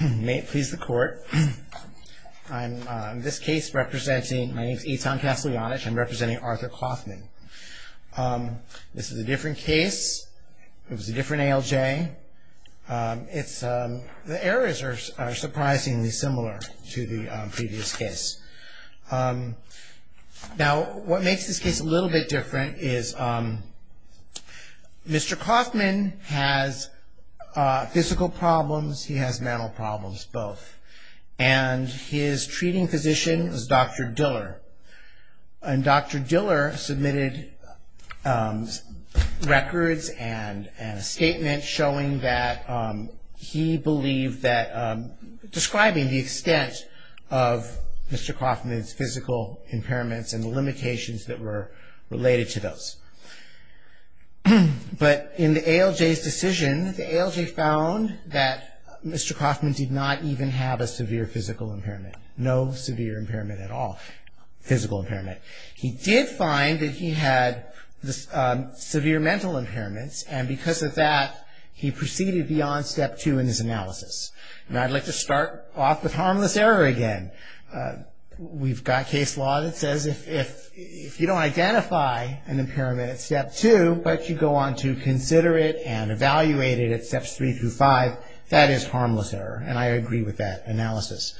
May it please the court, I'm in this case representing, my name is Eitan Kaslyanich, I'm representing Arthur Coffman. This is a different case, it was a different ALJ. It's, the errors are surprisingly similar to the previous case. Now, what makes this case a little bit different is Mr. Coffman has physical problems, he has mental problems, both. And his treating physician is Dr. Diller. And Dr. Diller submitted records and a statement showing that he believed that, describing the extent of Mr. Coffman's physical impairments and the limitations that were related to those. But in the ALJ's decision, the ALJ found that Mr. Coffman did not even have a severe physical impairment, no severe impairment at all, physical impairment. He did find that he had severe mental impairments and because of that he proceeded beyond Step 2 in his analysis. And I'd like to start off with harmless error again. We've got case law that says if you don't identify an impairment at Step 2, but you go on to consider it and evaluate it at Steps 3 through 5, that is harmless error. And I agree with that analysis.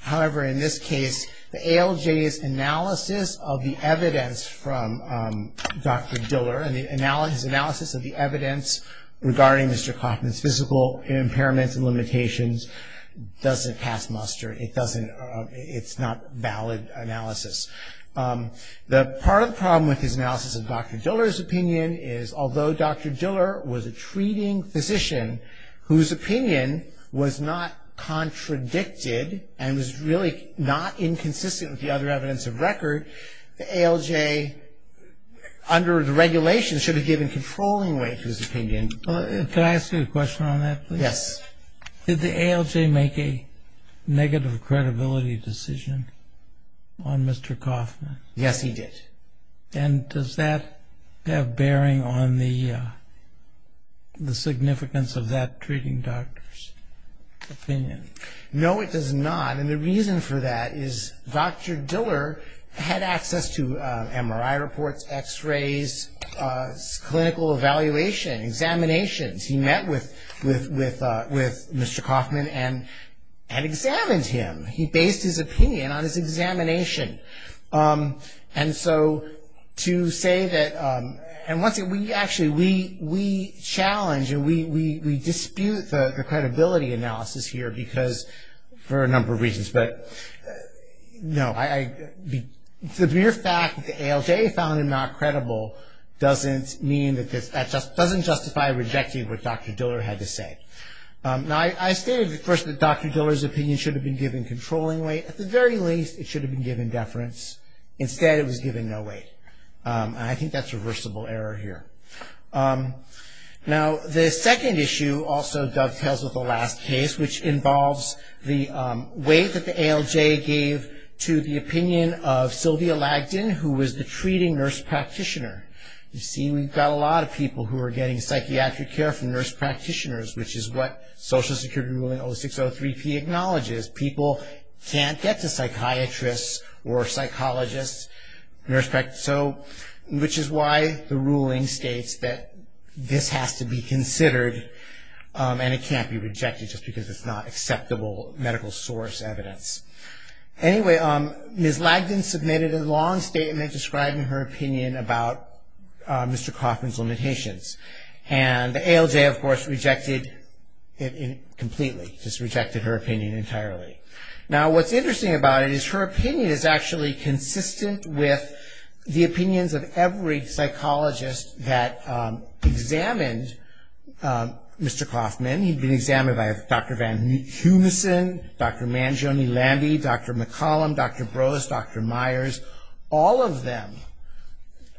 However, in this case, the ALJ's analysis of the evidence from Dr. Diller and his analysis of the evidence regarding Mr. Coffman's physical impairments and limitations doesn't pass muster. It doesn't, it's not valid analysis. The part of the problem with his analysis of Dr. Diller's opinion is although Dr. Diller was a treating physician, whose opinion was not contradicted and was really not inconsistent with the other evidence of record, the ALJ under the regulations should have given controlling weight to his opinion. Can I ask you a question on that, please? Yes. Did the ALJ make a negative credibility decision on Mr. Coffman? Yes, he did. And does that have bearing on the significance of that treating doctor's opinion? No, it does not. And the reason for that is Dr. Diller had access to MRI reports, X-rays, clinical evaluation, examinations. He met with Mr. Coffman and examined him. He based his opinion on his examination. And so to say that, and once again, we actually, we challenge and we dispute the credibility analysis here because, for a number of reasons, but no, the mere fact that the ALJ found him not credible doesn't mean that this, that doesn't justify rejecting what Dr. Diller had to say. Now, I stated at first that Dr. Diller's opinion should have been given controlling weight. At the very least, it should have been given deference. Instead, it was given no weight. And I think that's a reversible error here. Now, the second issue also dovetails with the last case, which involves the weight that the ALJ gave to the opinion of Sylvia Lagden, who was the treating nurse practitioner. You see, we've got a lot of people who are getting psychiatric care from nurse practitioners, which is what Social Security ruling 0603P acknowledges. People can't get to psychiatrists or psychologists, nurse practitioners, which is why the ruling states that this has to be considered, and it can't be rejected just because it's not acceptable medical source evidence. Anyway, Ms. Lagden submitted a long statement describing her opinion about Mr. Coffman's limitations. And the ALJ, of course, rejected it completely, just rejected her opinion entirely. Now, what's interesting about it is her opinion is actually consistent with the opinions of every psychologist that examined Mr. Coffman. He'd been examined by Dr. Van Heunissen, Dr. Mangione-Landy, Dr. McCollum, Dr. Brose, Dr. Myers. All of them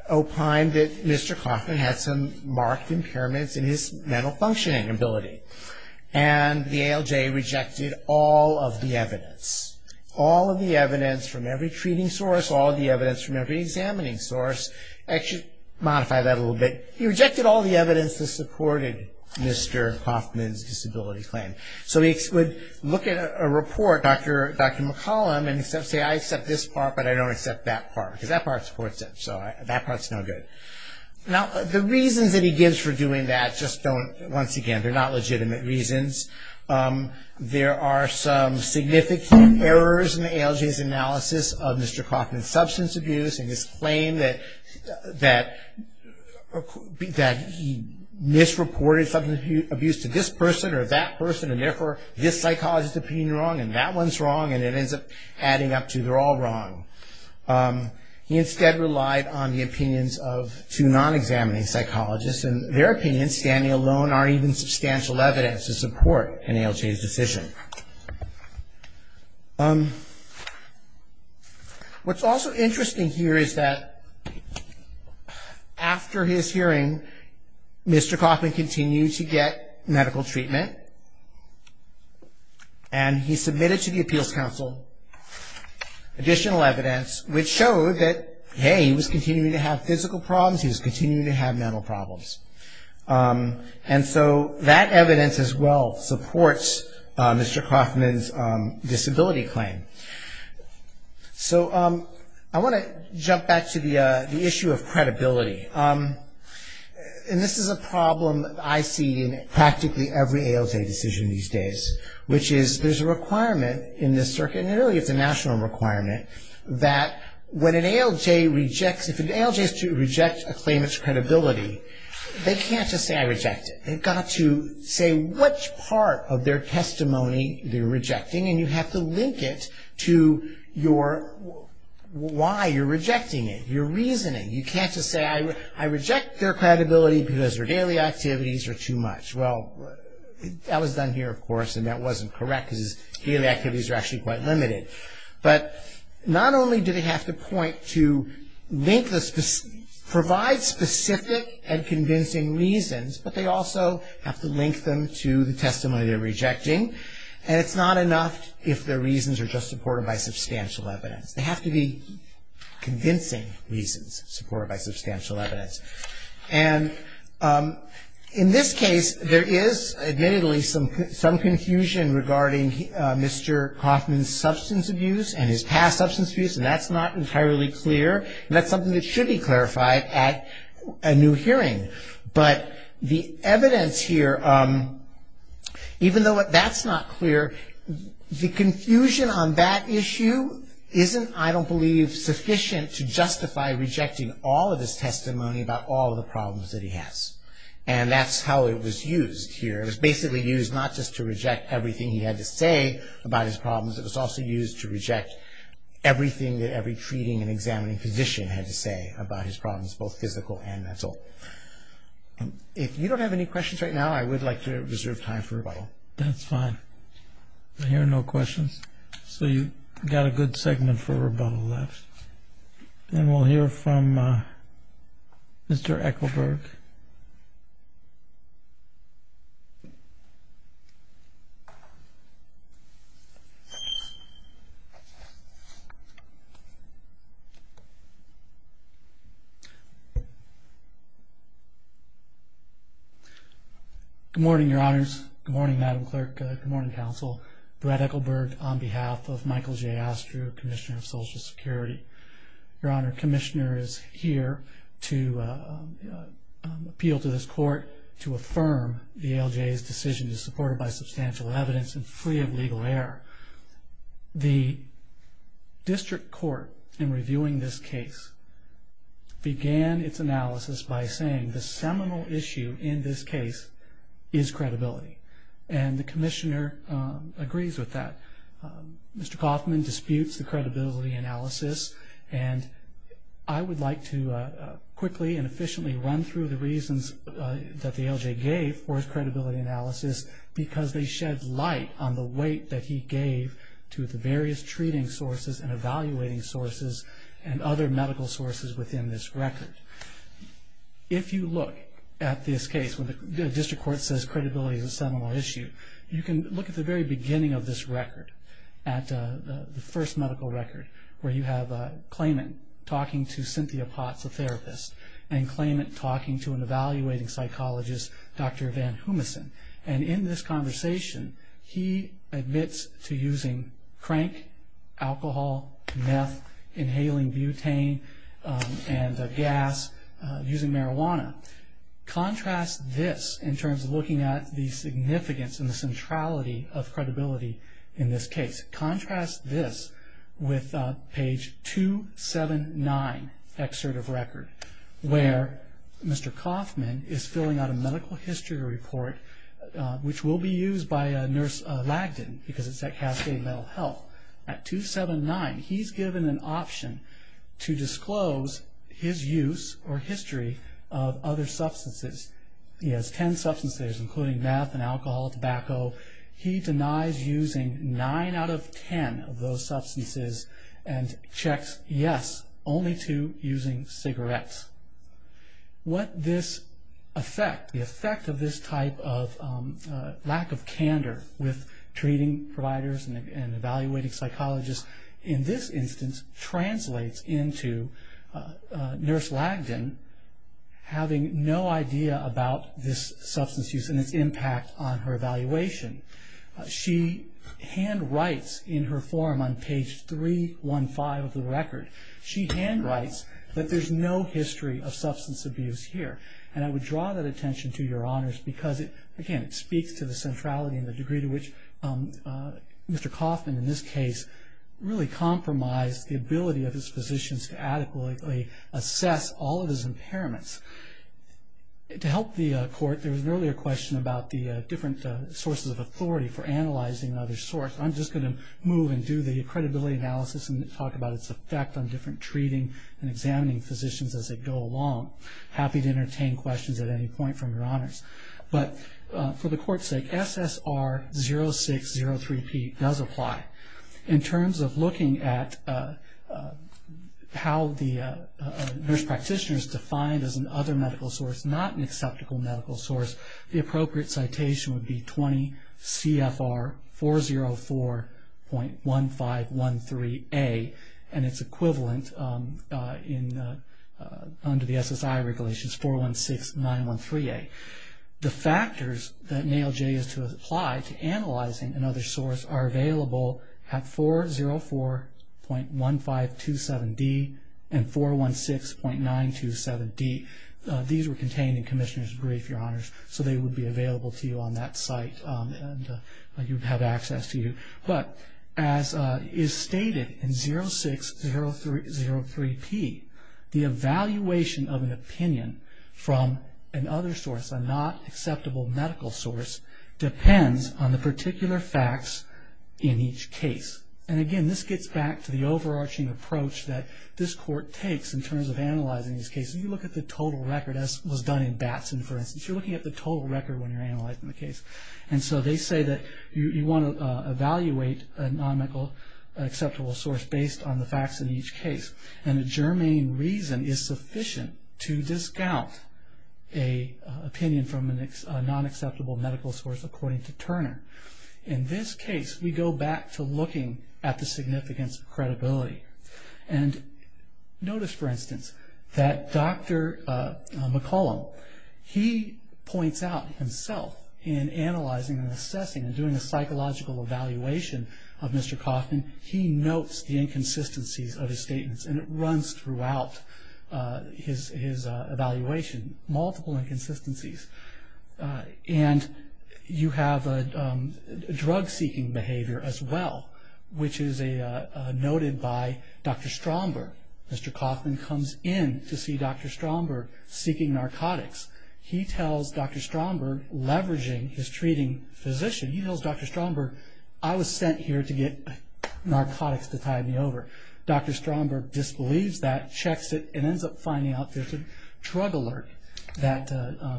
opined that Mr. Coffman had some marked impairments in his mental functioning ability, and the ALJ rejected all of the evidence, all of the evidence from every treating source, all of the evidence from every examining source. I should modify that a little bit. He rejected all the evidence that supported Mr. Coffman's disability claim. So he would look at a report, Dr. McCollum, and say, I accept this part, but I don't accept that part, because that part supports it, so that part's no good. Now, the reasons that he gives for doing that just don't, once again, they're not legitimate reasons. There are some significant errors in the ALJ's analysis of Mr. Coffman's substance abuse and his claim that he misreported substance abuse to this person or that person, and therefore this psychologist's opinion is wrong and that one's wrong, and it ends up adding up to they're all wrong. He instead relied on the opinions of two non-examining psychologists, and their opinions, standing alone, aren't even substantial evidence to support an ALJ's decision. What's also interesting here is that after his hearing, Mr. Coffman continued to get medical treatment, and he submitted to the Appeals Council additional evidence which showed that, hey, he was continuing to have physical problems, he was continuing to have mental problems. And so that evidence as well supports Mr. Coffman's disability claim. So I want to jump back to the issue of credibility, and this is a problem I see in practically every ALJ decision these days, which is there's a requirement in this circuit, and really it's a national requirement, that when an ALJ rejects, if an ALJ is to reject a claimant's credibility, they can't just say I reject it. They've got to say which part of their testimony they're rejecting, and you have to link it to why you're rejecting it, your reasoning. You can't just say I reject their credibility because their daily activities are too much. Well, that was done here, of course, and that wasn't correct because his daily activities are actually quite limited. But not only do they have to point to link this, provide specific and convincing reasons, but they also have to link them to the testimony they're rejecting, and it's not enough if their reasons are just supported by substantial evidence. They have to be convincing reasons supported by substantial evidence. And in this case, there is admittedly some confusion regarding Mr. Kauffman's substance abuse and his past substance abuse, and that's not entirely clear, and that's something that should be clarified at a new hearing. But the evidence here, even though that's not clear, the confusion on that issue isn't, I don't believe, sufficient to justify rejecting all of his testimony about all of the problems that he has, and that's how it was used here. It was basically used not just to reject everything he had to say about his problems. It was also used to reject everything that every treating and examining physician had to say about his problems, both physical and mental. If you don't have any questions right now, I would like to reserve time for rebuttal. No, that's fine. I hear no questions. So you've got a good segment for rebuttal left. And we'll hear from Mr. Ekelberg. Mr. Ekelberg. Good morning, Your Honors. Good morning, Madam Clerk. Good morning, Counsel. Brett Ekelberg on behalf of Michael J. Astro, Commissioner of Social Security. Your Honor, Commissioner is here to appeal to this court to affirm the ALJ's decision is supported by substantial evidence and free of legal error. The district court in reviewing this case began its analysis by saying the seminal issue in this case is credibility. And the Commissioner agrees with that. Mr. Kaufman disputes the credibility analysis, and I would like to quickly and efficiently run through the reasons that the ALJ gave for its credibility analysis because they shed light on the weight that he gave to the various treating sources and evaluating sources and other medical sources within this record. If you look at this case, when the district court says credibility is a seminal issue, you can look at the very beginning of this record, at the first medical record, where you have Klayman talking to Cynthia Potts, a therapist, and Klayman talking to an evaluating psychologist, Dr. Van Hoomissen. And in this conversation, he admits to using crank, alcohol, meth, inhaling butane and gas, using marijuana. Contrast this in terms of looking at the significance and the centrality of credibility in this case. Contrast this with page 279, excerpt of record, where Mr. Kaufman is filling out a medical history report, which will be used by Nurse Lagden because it's at Cascade Mental Health. At 279, he's given an option to disclose his use or history of other substances. He has ten substances, including meth and alcohol, tobacco. He denies using nine out of ten of those substances and checks yes only to using cigarettes. What this effect, the effect of this type of lack of candor with treating providers and evaluating psychologists, in this instance, translates into Nurse Lagden having no idea about this substance use and its impact on her evaluation. She handwrites in her form on page 315 of the record. She handwrites that there's no history of substance abuse here. And I would draw that attention to your honors because, again, it speaks to the centrality and the degree to which Mr. Kaufman, in this case, really compromised the ability of his physicians to adequately assess all of his impairments. To help the court, there was an earlier question about the different sources of authority for analyzing other sorts. I'm just going to move and do the credibility analysis and talk about its effect on different treating and examining physicians as they go along. Happy to entertain questions at any point from your honors. But for the court's sake, SSR 0603P does apply. In terms of looking at how the nurse practitioner is defined as an other medical source, not an acceptable medical source, the appropriate citation would be 20 CFR 404.1513A, and its equivalent under the SSI regulation is 416.913A. The factors that NAOJ is to apply to analyzing another source are available at 404.1527D and 416.927D. These were contained in Commissioner's Brief, your honors, so they would be available to you on that site and you would have access to you. But as is stated in 0603P, the evaluation of an opinion from an other source, a not acceptable medical source, depends on the particular facts in each case. And, again, this gets back to the overarching approach that this court takes in terms of analyzing these cases. You look at the total record, as was done in Batson, for instance. You're looking at the total record when you're analyzing the case. And so they say that you want to evaluate a non-acceptable source based on the facts in each case. And a germane reason is sufficient to discount an opinion from a non-acceptable medical source, according to Turner. In this case, we go back to looking at the significance of credibility. And notice, for instance, that Dr. McCollum, he points out himself in analyzing and assessing and doing a psychological evaluation of Mr. Kaufman, he notes the inconsistencies of his statements and it runs throughout his evaluation, multiple inconsistencies. And you have a drug-seeking behavior as well, which is noted by Dr. Stromberg. Mr. Kaufman comes in to see Dr. Stromberg seeking narcotics. He tells Dr. Stromberg, leveraging his treating physician, he tells Dr. Stromberg, I was sent here to get narcotics to tide me over. Dr. Stromberg disbelieves that, checks it, and ends up finding out there's a drug alert that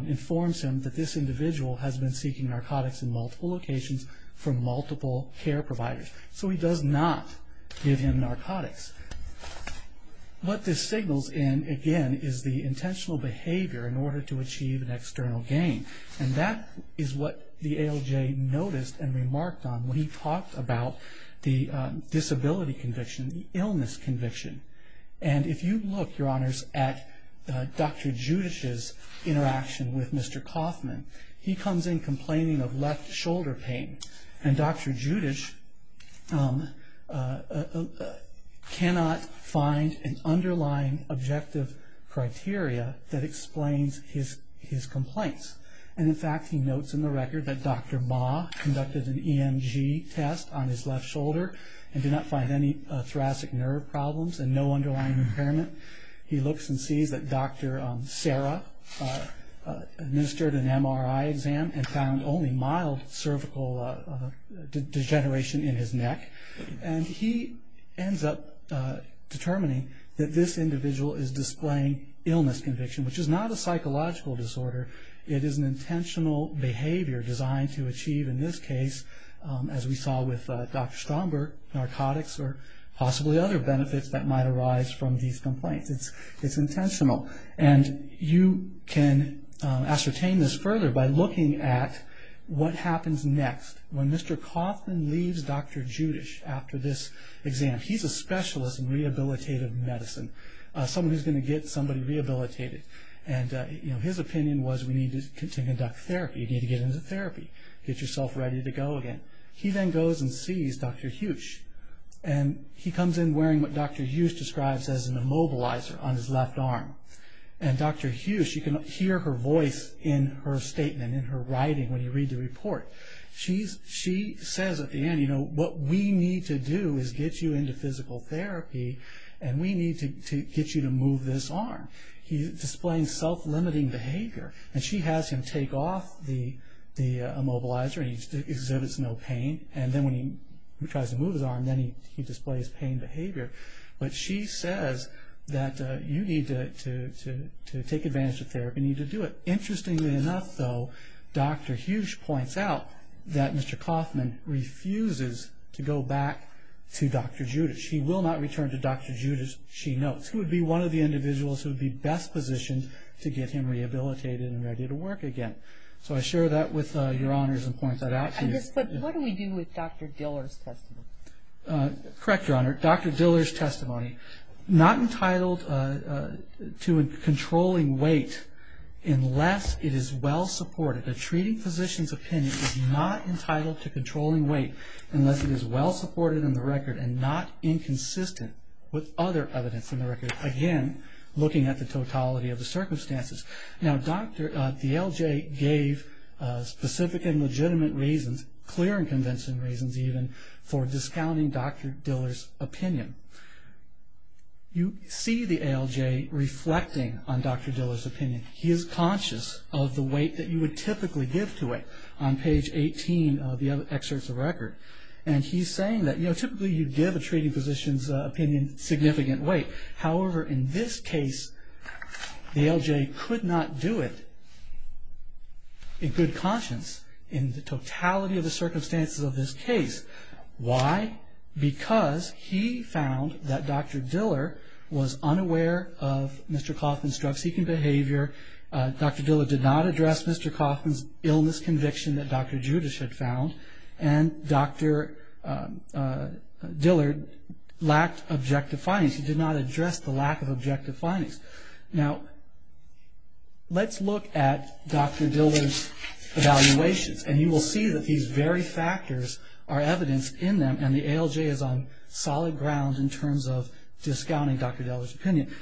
informs him that this individual has been seeking narcotics in multiple locations from multiple care providers. So he does not give him narcotics. What this signals in, again, is the intentional behavior in order to achieve an external gain. And that is what the ALJ noticed and remarked on when he talked about the disability conviction, the illness conviction. And if you look, Your Honors, at Dr. Judisch's interaction with Mr. Kaufman, he comes in complaining of left shoulder pain. And Dr. Judisch cannot find an underlying objective criteria that explains his complaints. And, in fact, he notes in the record that Dr. Baugh conducted an EMG test on his left shoulder and did not find any thoracic nerve problems and no underlying impairment. He looks and sees that Dr. Sara administered an MRI exam and found only mild cervical degeneration in his neck. And he ends up determining that this individual is displaying illness conviction, which is not a psychological disorder. It is an intentional behavior designed to achieve, in this case, as we saw with Dr. Stromberg, narcotics or possibly other benefits that might arise from these complaints. It's intentional. And you can ascertain this further by looking at what happens next when Mr. Kaufman leaves Dr. Judisch after this exam. He's a specialist in rehabilitative medicine, someone who's going to get somebody rehabilitated. And his opinion was we need to conduct therapy, you need to get into therapy, get yourself ready to go again. He then goes and sees Dr. Huch. And he comes in wearing what Dr. Huch describes as an immobilizer on his left arm. And Dr. Huch, you can hear her voice in her statement, in her writing when you read the report. She says at the end, you know, what we need to do is get you into physical therapy and we need to get you to move this arm. He's displaying self-limiting behavior. And she has him take off the immobilizer and he exhibits no pain. And then when he tries to move his arm, then he displays pain behavior. But she says that you need to take advantage of therapy, you need to do it. Interestingly enough, though, Dr. Huch points out that Mr. Kaufman refuses to go back to Dr. Judisch. He will not return to Dr. Judisch, she notes. He would be one of the individuals who would be best positioned to get him rehabilitated and ready to work again. So I share that with Your Honors and point that out to you. I just put, what do we do with Dr. Diller's testimony? Correct, Your Honor. Dr. Diller's testimony, not entitled to controlling weight unless it is well supported. A treating physician's opinion is not entitled to controlling weight unless it is well supported in the record and not inconsistent with other evidence in the record. Again, looking at the totality of the circumstances. Now the ALJ gave specific and legitimate reasons, clear and convincing reasons even, for discounting Dr. Diller's opinion. You see the ALJ reflecting on Dr. Diller's opinion. He is conscious of the weight that you would typically give to it on page 18 of the excerpts of the record. And he is saying that typically you give a treating physician's opinion significant weight. However, in this case, the ALJ could not do it in good conscience, in the totality of the circumstances of this case. Why? Because he found that Dr. Diller was unaware of Mr. Kauffman's drug-seeking behavior, Dr. Diller did not address Mr. Kauffman's illness conviction that Dr. Judisch had found, and Dr. Diller lacked objective findings. He did not address the lack of objective findings. Now let's look at Dr. Diller's evaluations, and you will see that these very factors are evidenced in them, and the ALJ is on solid ground in terms of discounting Dr. Diller's opinion.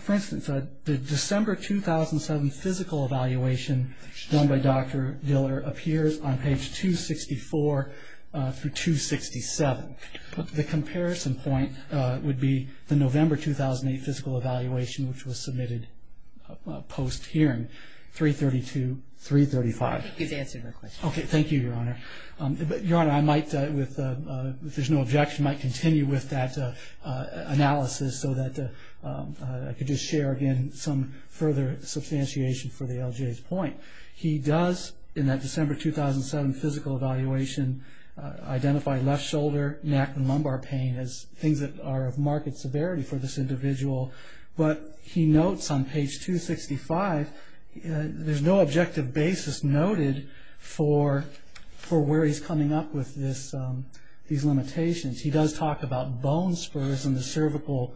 For instance, the December 2007 physical evaluation done by Dr. Diller appears on page 264 through 267. The comparison point would be the November 2008 physical evaluation, which was submitted post-hearing, 332, 335. I think he's answered your question. Okay. Thank you, Your Honor. Your Honor, I might, if there's no objection, might continue with that analysis so that I could just share again some further substantiation for the ALJ's point. He does, in that December 2007 physical evaluation, identify left shoulder, neck, and lumbar pain as things that are of marked severity for this individual, but he notes on page 265 there's no objective basis noted for where he's coming up with these limitations. He does talk about bone spurs in the cervical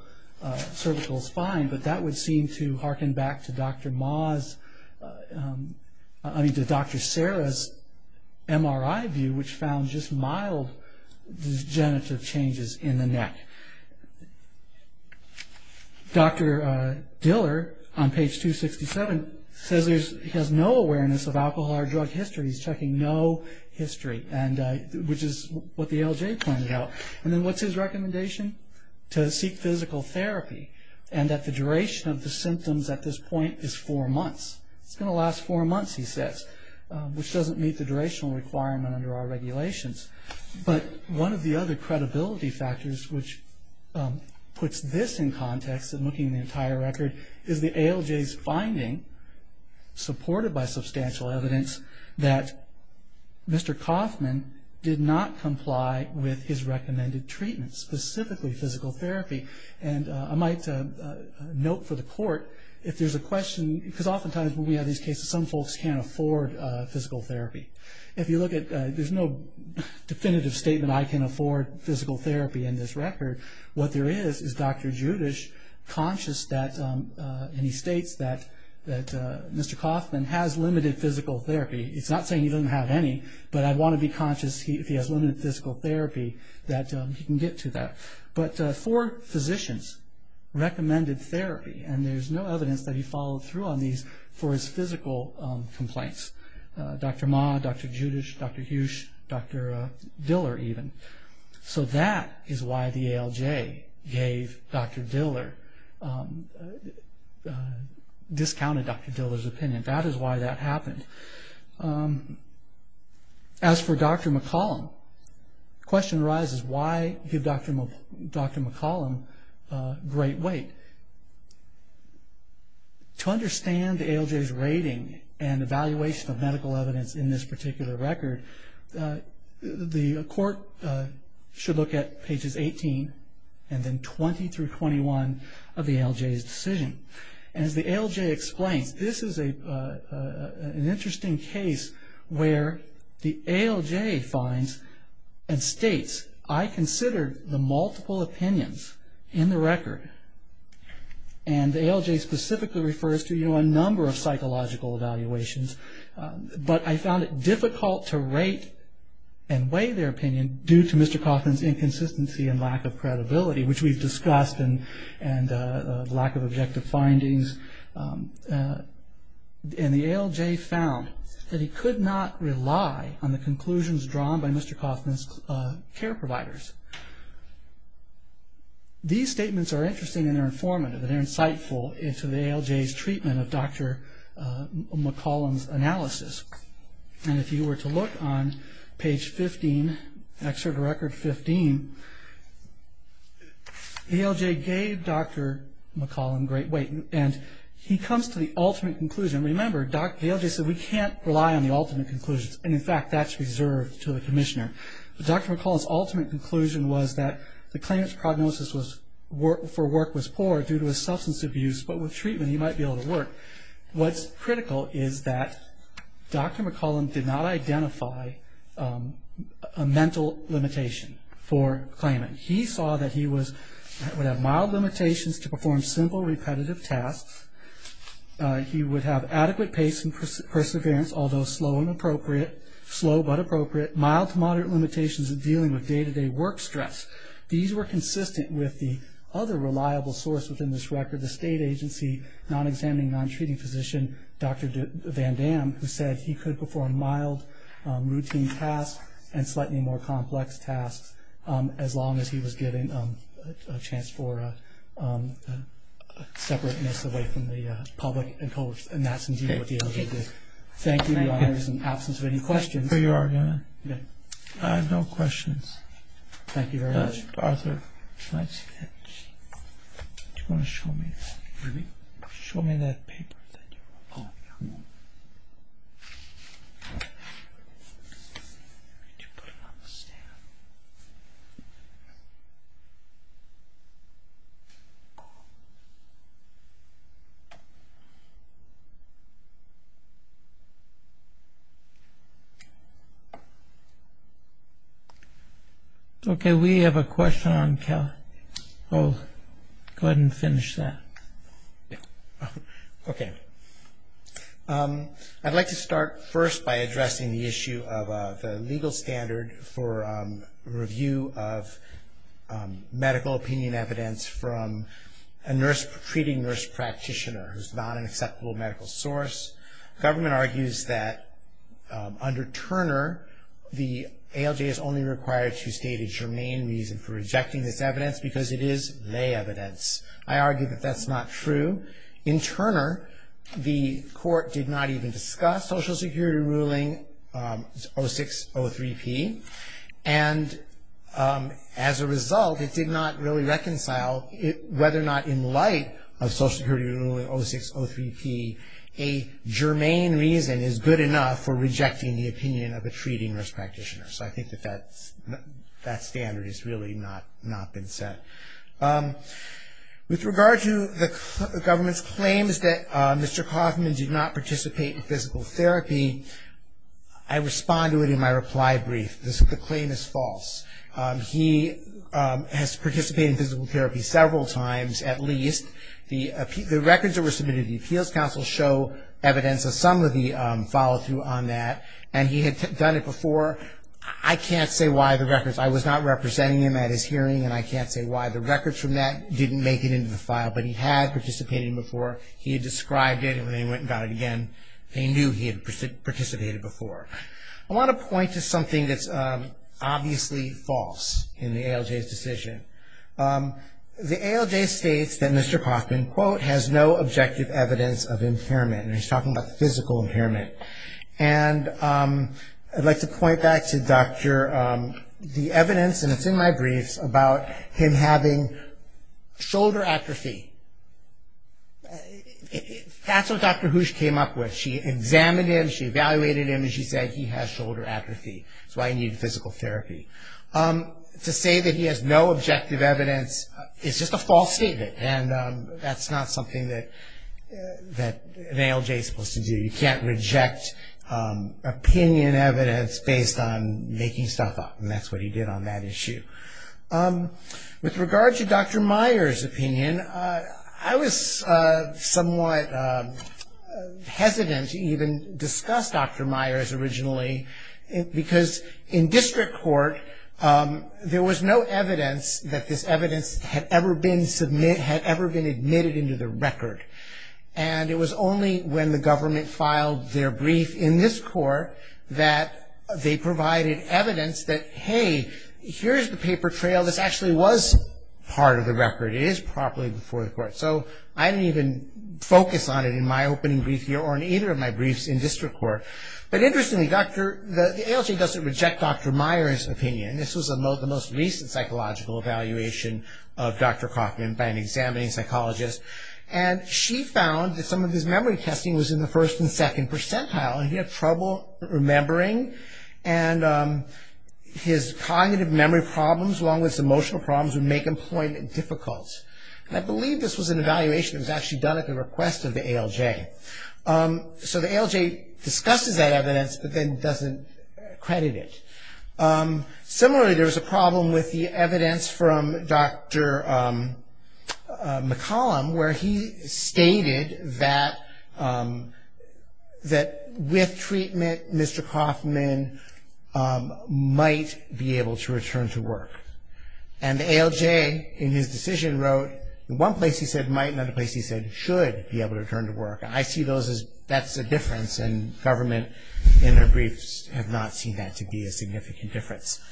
spine, but that would seem to harken back to Dr. Sarah's MRI view, which found just mild degenerative changes in the neck. Dr. Diller, on page 267, says he has no awareness of alcohol or drug history. He's checking no history, which is what the ALJ pointed out. Then what's his recommendation? To seek physical therapy, and that the duration of the symptoms at this point is four months. It's going to last four months, he says, which doesn't meet the durational requirement under our regulations. But one of the other credibility factors which puts this in context in looking at the entire record is the ALJ's finding, supported by substantial evidence, that Mr. Coffman did not comply with his recommended treatment, specifically physical therapy. I might note for the court, if there's a question, because oftentimes when we have these cases some folks can't afford physical therapy. There's no definitive statement, I can afford physical therapy in this record. What there is, is Dr. Judisch conscious, and he states that Mr. Coffman has limited physical therapy. He's not saying he doesn't have any, but I'd want to be conscious if he has limited physical therapy that he can get to that. But four physicians recommended therapy, and there's no evidence that he followed through on these for his physical complaints. Dr. Ma, Dr. Judisch, Dr. Hughes, Dr. Diller even. So that is why the ALJ gave Dr. Diller, discounted Dr. Diller's opinion. That is why that happened. As for Dr. McCollum, the question arises, why give Dr. McCollum great weight? To understand the ALJ's rating and evaluation of medical evidence in this particular record, the court should look at pages 18 and then 20 through 21 of the ALJ's decision. As the ALJ explains, this is an interesting case where the ALJ states, I considered the multiple opinions in the record, and the ALJ specifically refers to a number of psychological evaluations, but I found it difficult to rate and weigh their opinion due to Mr. Coffman's inconsistency and lack of credibility, which we've discussed, and lack of objective findings. And the ALJ found that he could not rely on the conclusions drawn by Mr. Coffman's care providers. These statements are interesting and they're informative and they're insightful into the ALJ's treatment of Dr. McCollum's analysis. And if you were to look on page 15, excerpt of record 15, ALJ gave Dr. McCollum great weight and he comes to the ultimate conclusion. Remember, ALJ said we can't rely on the ultimate conclusions, and in fact that's reserved to the commissioner. Dr. McCollum's ultimate conclusion was that the claimant's prognosis for work was poor due to his substance abuse, but with treatment he might be able to work. What's critical is that Dr. McCollum did not identify a mental limitation for the claimant. He saw that he would have mild limitations to perform simple, repetitive tasks. He would have adequate pace and perseverance, although slow but appropriate. Mild to moderate limitations in dealing with day-to-day work stress. These were consistent with the other reliable source within this record, the state agency non-examining, non-treating physician, Dr. Van Dam, who said he could perform mild routine tasks and slightly more complex tasks as long as he was given a chance for separateness away from the public. And that's indeed what the ALJ did. Thank you. In the absence of any questions. I have no questions. Thank you very much. Arthur, can I see that? Do you want to show me that? Show me that paper. Oh, yeah. Okay, we have a question on Cal. Go ahead and finish that. Okay. I'd like to start first by addressing the issue of the legal standard for review of medical opinion evidence from a treating nurse practitioner who's not an acceptable medical source. Government argues that under Turner, the ALJ is only required to state a germane reason for rejecting this evidence because it is lay evidence. I argue that that's not true. In Turner, the court did not even discuss Social Security ruling 0603P. And as a result, it did not really reconcile whether or not in light of Social Security ruling 0603P, a germane reason is good enough for rejecting the opinion of a treating nurse practitioner. So I think that that standard has really not been set. With regard to the government's claims that Mr. Kaufman did not participate in physical therapy, I respond to it in my reply brief. The claim is false. He has participated in physical therapy several times at least. The records that were submitted to the Appeals Council show evidence of some of the follow-through on that. And he had done it before. I can't say why the records. I was not representing him at his hearing, and I can't say why the records from that didn't make it into the file. But he had participated before. He had described it, and when they went and got it again, they knew he had participated before. I want to point to something that's obviously false in the ALJ's decision. The ALJ states that Mr. Kaufman, quote, has no objective evidence of impairment. And he's talking about physical impairment. And I'd like to point back to the evidence, and it's in my briefs, about him having shoulder atrophy. That's what Dr. Hoosh came up with. She examined him, she evaluated him, and she said he has shoulder atrophy. That's why he needed physical therapy. To say that he has no objective evidence is just a false statement, and that's not something that an ALJ is supposed to do. You can't reject opinion evidence based on making stuff up, and that's what he did on that issue. With regard to Dr. Myers' opinion, I was somewhat hesitant to even discuss Dr. Myers originally, because in district court, there was no evidence that this evidence had ever been submitted, had ever been admitted into the record. And it was only when the government filed their brief in this court that they provided evidence that, hey, here's the paper trail. This actually was part of the record. It is properly before the court. So I didn't even focus on it in my opening brief here or in either of my briefs in district court. But interestingly, the ALJ doesn't reject Dr. Myers' opinion. This was the most recent psychological evaluation of Dr. Kaufman by an examining psychologist, and she found that some of his memory testing was in the first and second percentile, and he had trouble remembering, and his cognitive memory problems along with his emotional problems would make employment difficult. I believe this was an evaluation that was actually done at the request of the ALJ. So the ALJ discusses that evidence, but then doesn't credit it. Similarly, there was a problem with the evidence from Dr. McCollum, where he stated that with treatment, Mr. Kaufman might be able to return to work. And the ALJ, in his decision, wrote, in one place he said might, and in another place he said should be able to return to work. I see those as that's a difference, and government in their briefs have not seen that to be a significant difference.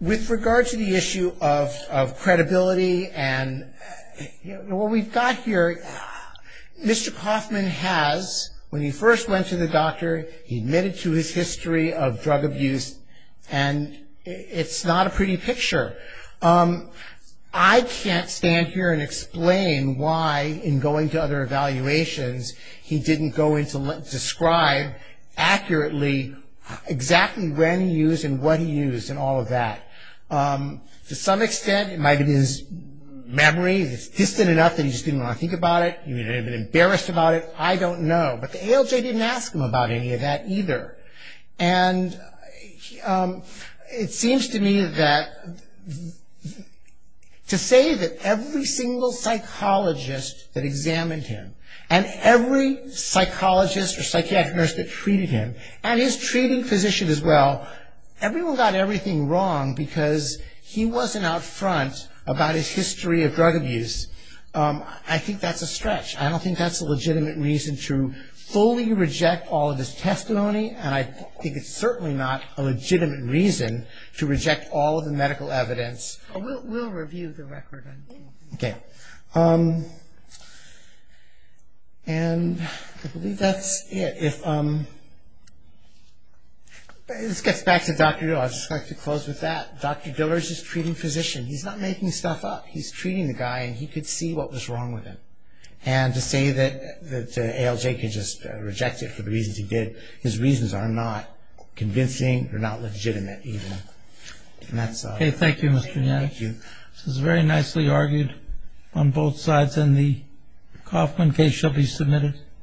With regard to the issue of credibility and what we've got here, Mr. Kaufman has, when he first went to the doctor, he admitted to his history of drug abuse, and it's not a pretty picture. I can't stand here and explain why, in going to other evaluations, he didn't go in to describe accurately exactly when he used and what he used and all of that. To some extent, it might have been his memory, it's distant enough that he just didn't want to think about it, he may have been embarrassed about it, I don't know. But the ALJ didn't ask him about any of that either. And it seems to me that to say that every single psychologist that examined him, and every psychologist or psychiatric nurse that treated him, and his treating physician as well, everyone got everything wrong because he wasn't out front about his history of drug abuse. I think that's a stretch. I don't think that's a legitimate reason to fully reject all of his testimony, and I think it's certainly not a legitimate reason to reject all of the medical evidence. We'll review the record. Okay. And I believe that's it. This gets back to Dr. Diller. I'd just like to close with that. Dr. Diller is his treating physician. He's not making stuff up. He's treating the guy, and he could see what was wrong with him. And to say that ALJ can just reject it for the reasons he did, his reasons are not convincing, they're not legitimate even. And that's all. Okay, thank you, Mr. Gnatch. Thank you. This was very nicely argued on both sides, and the Kauffman case shall be submitted.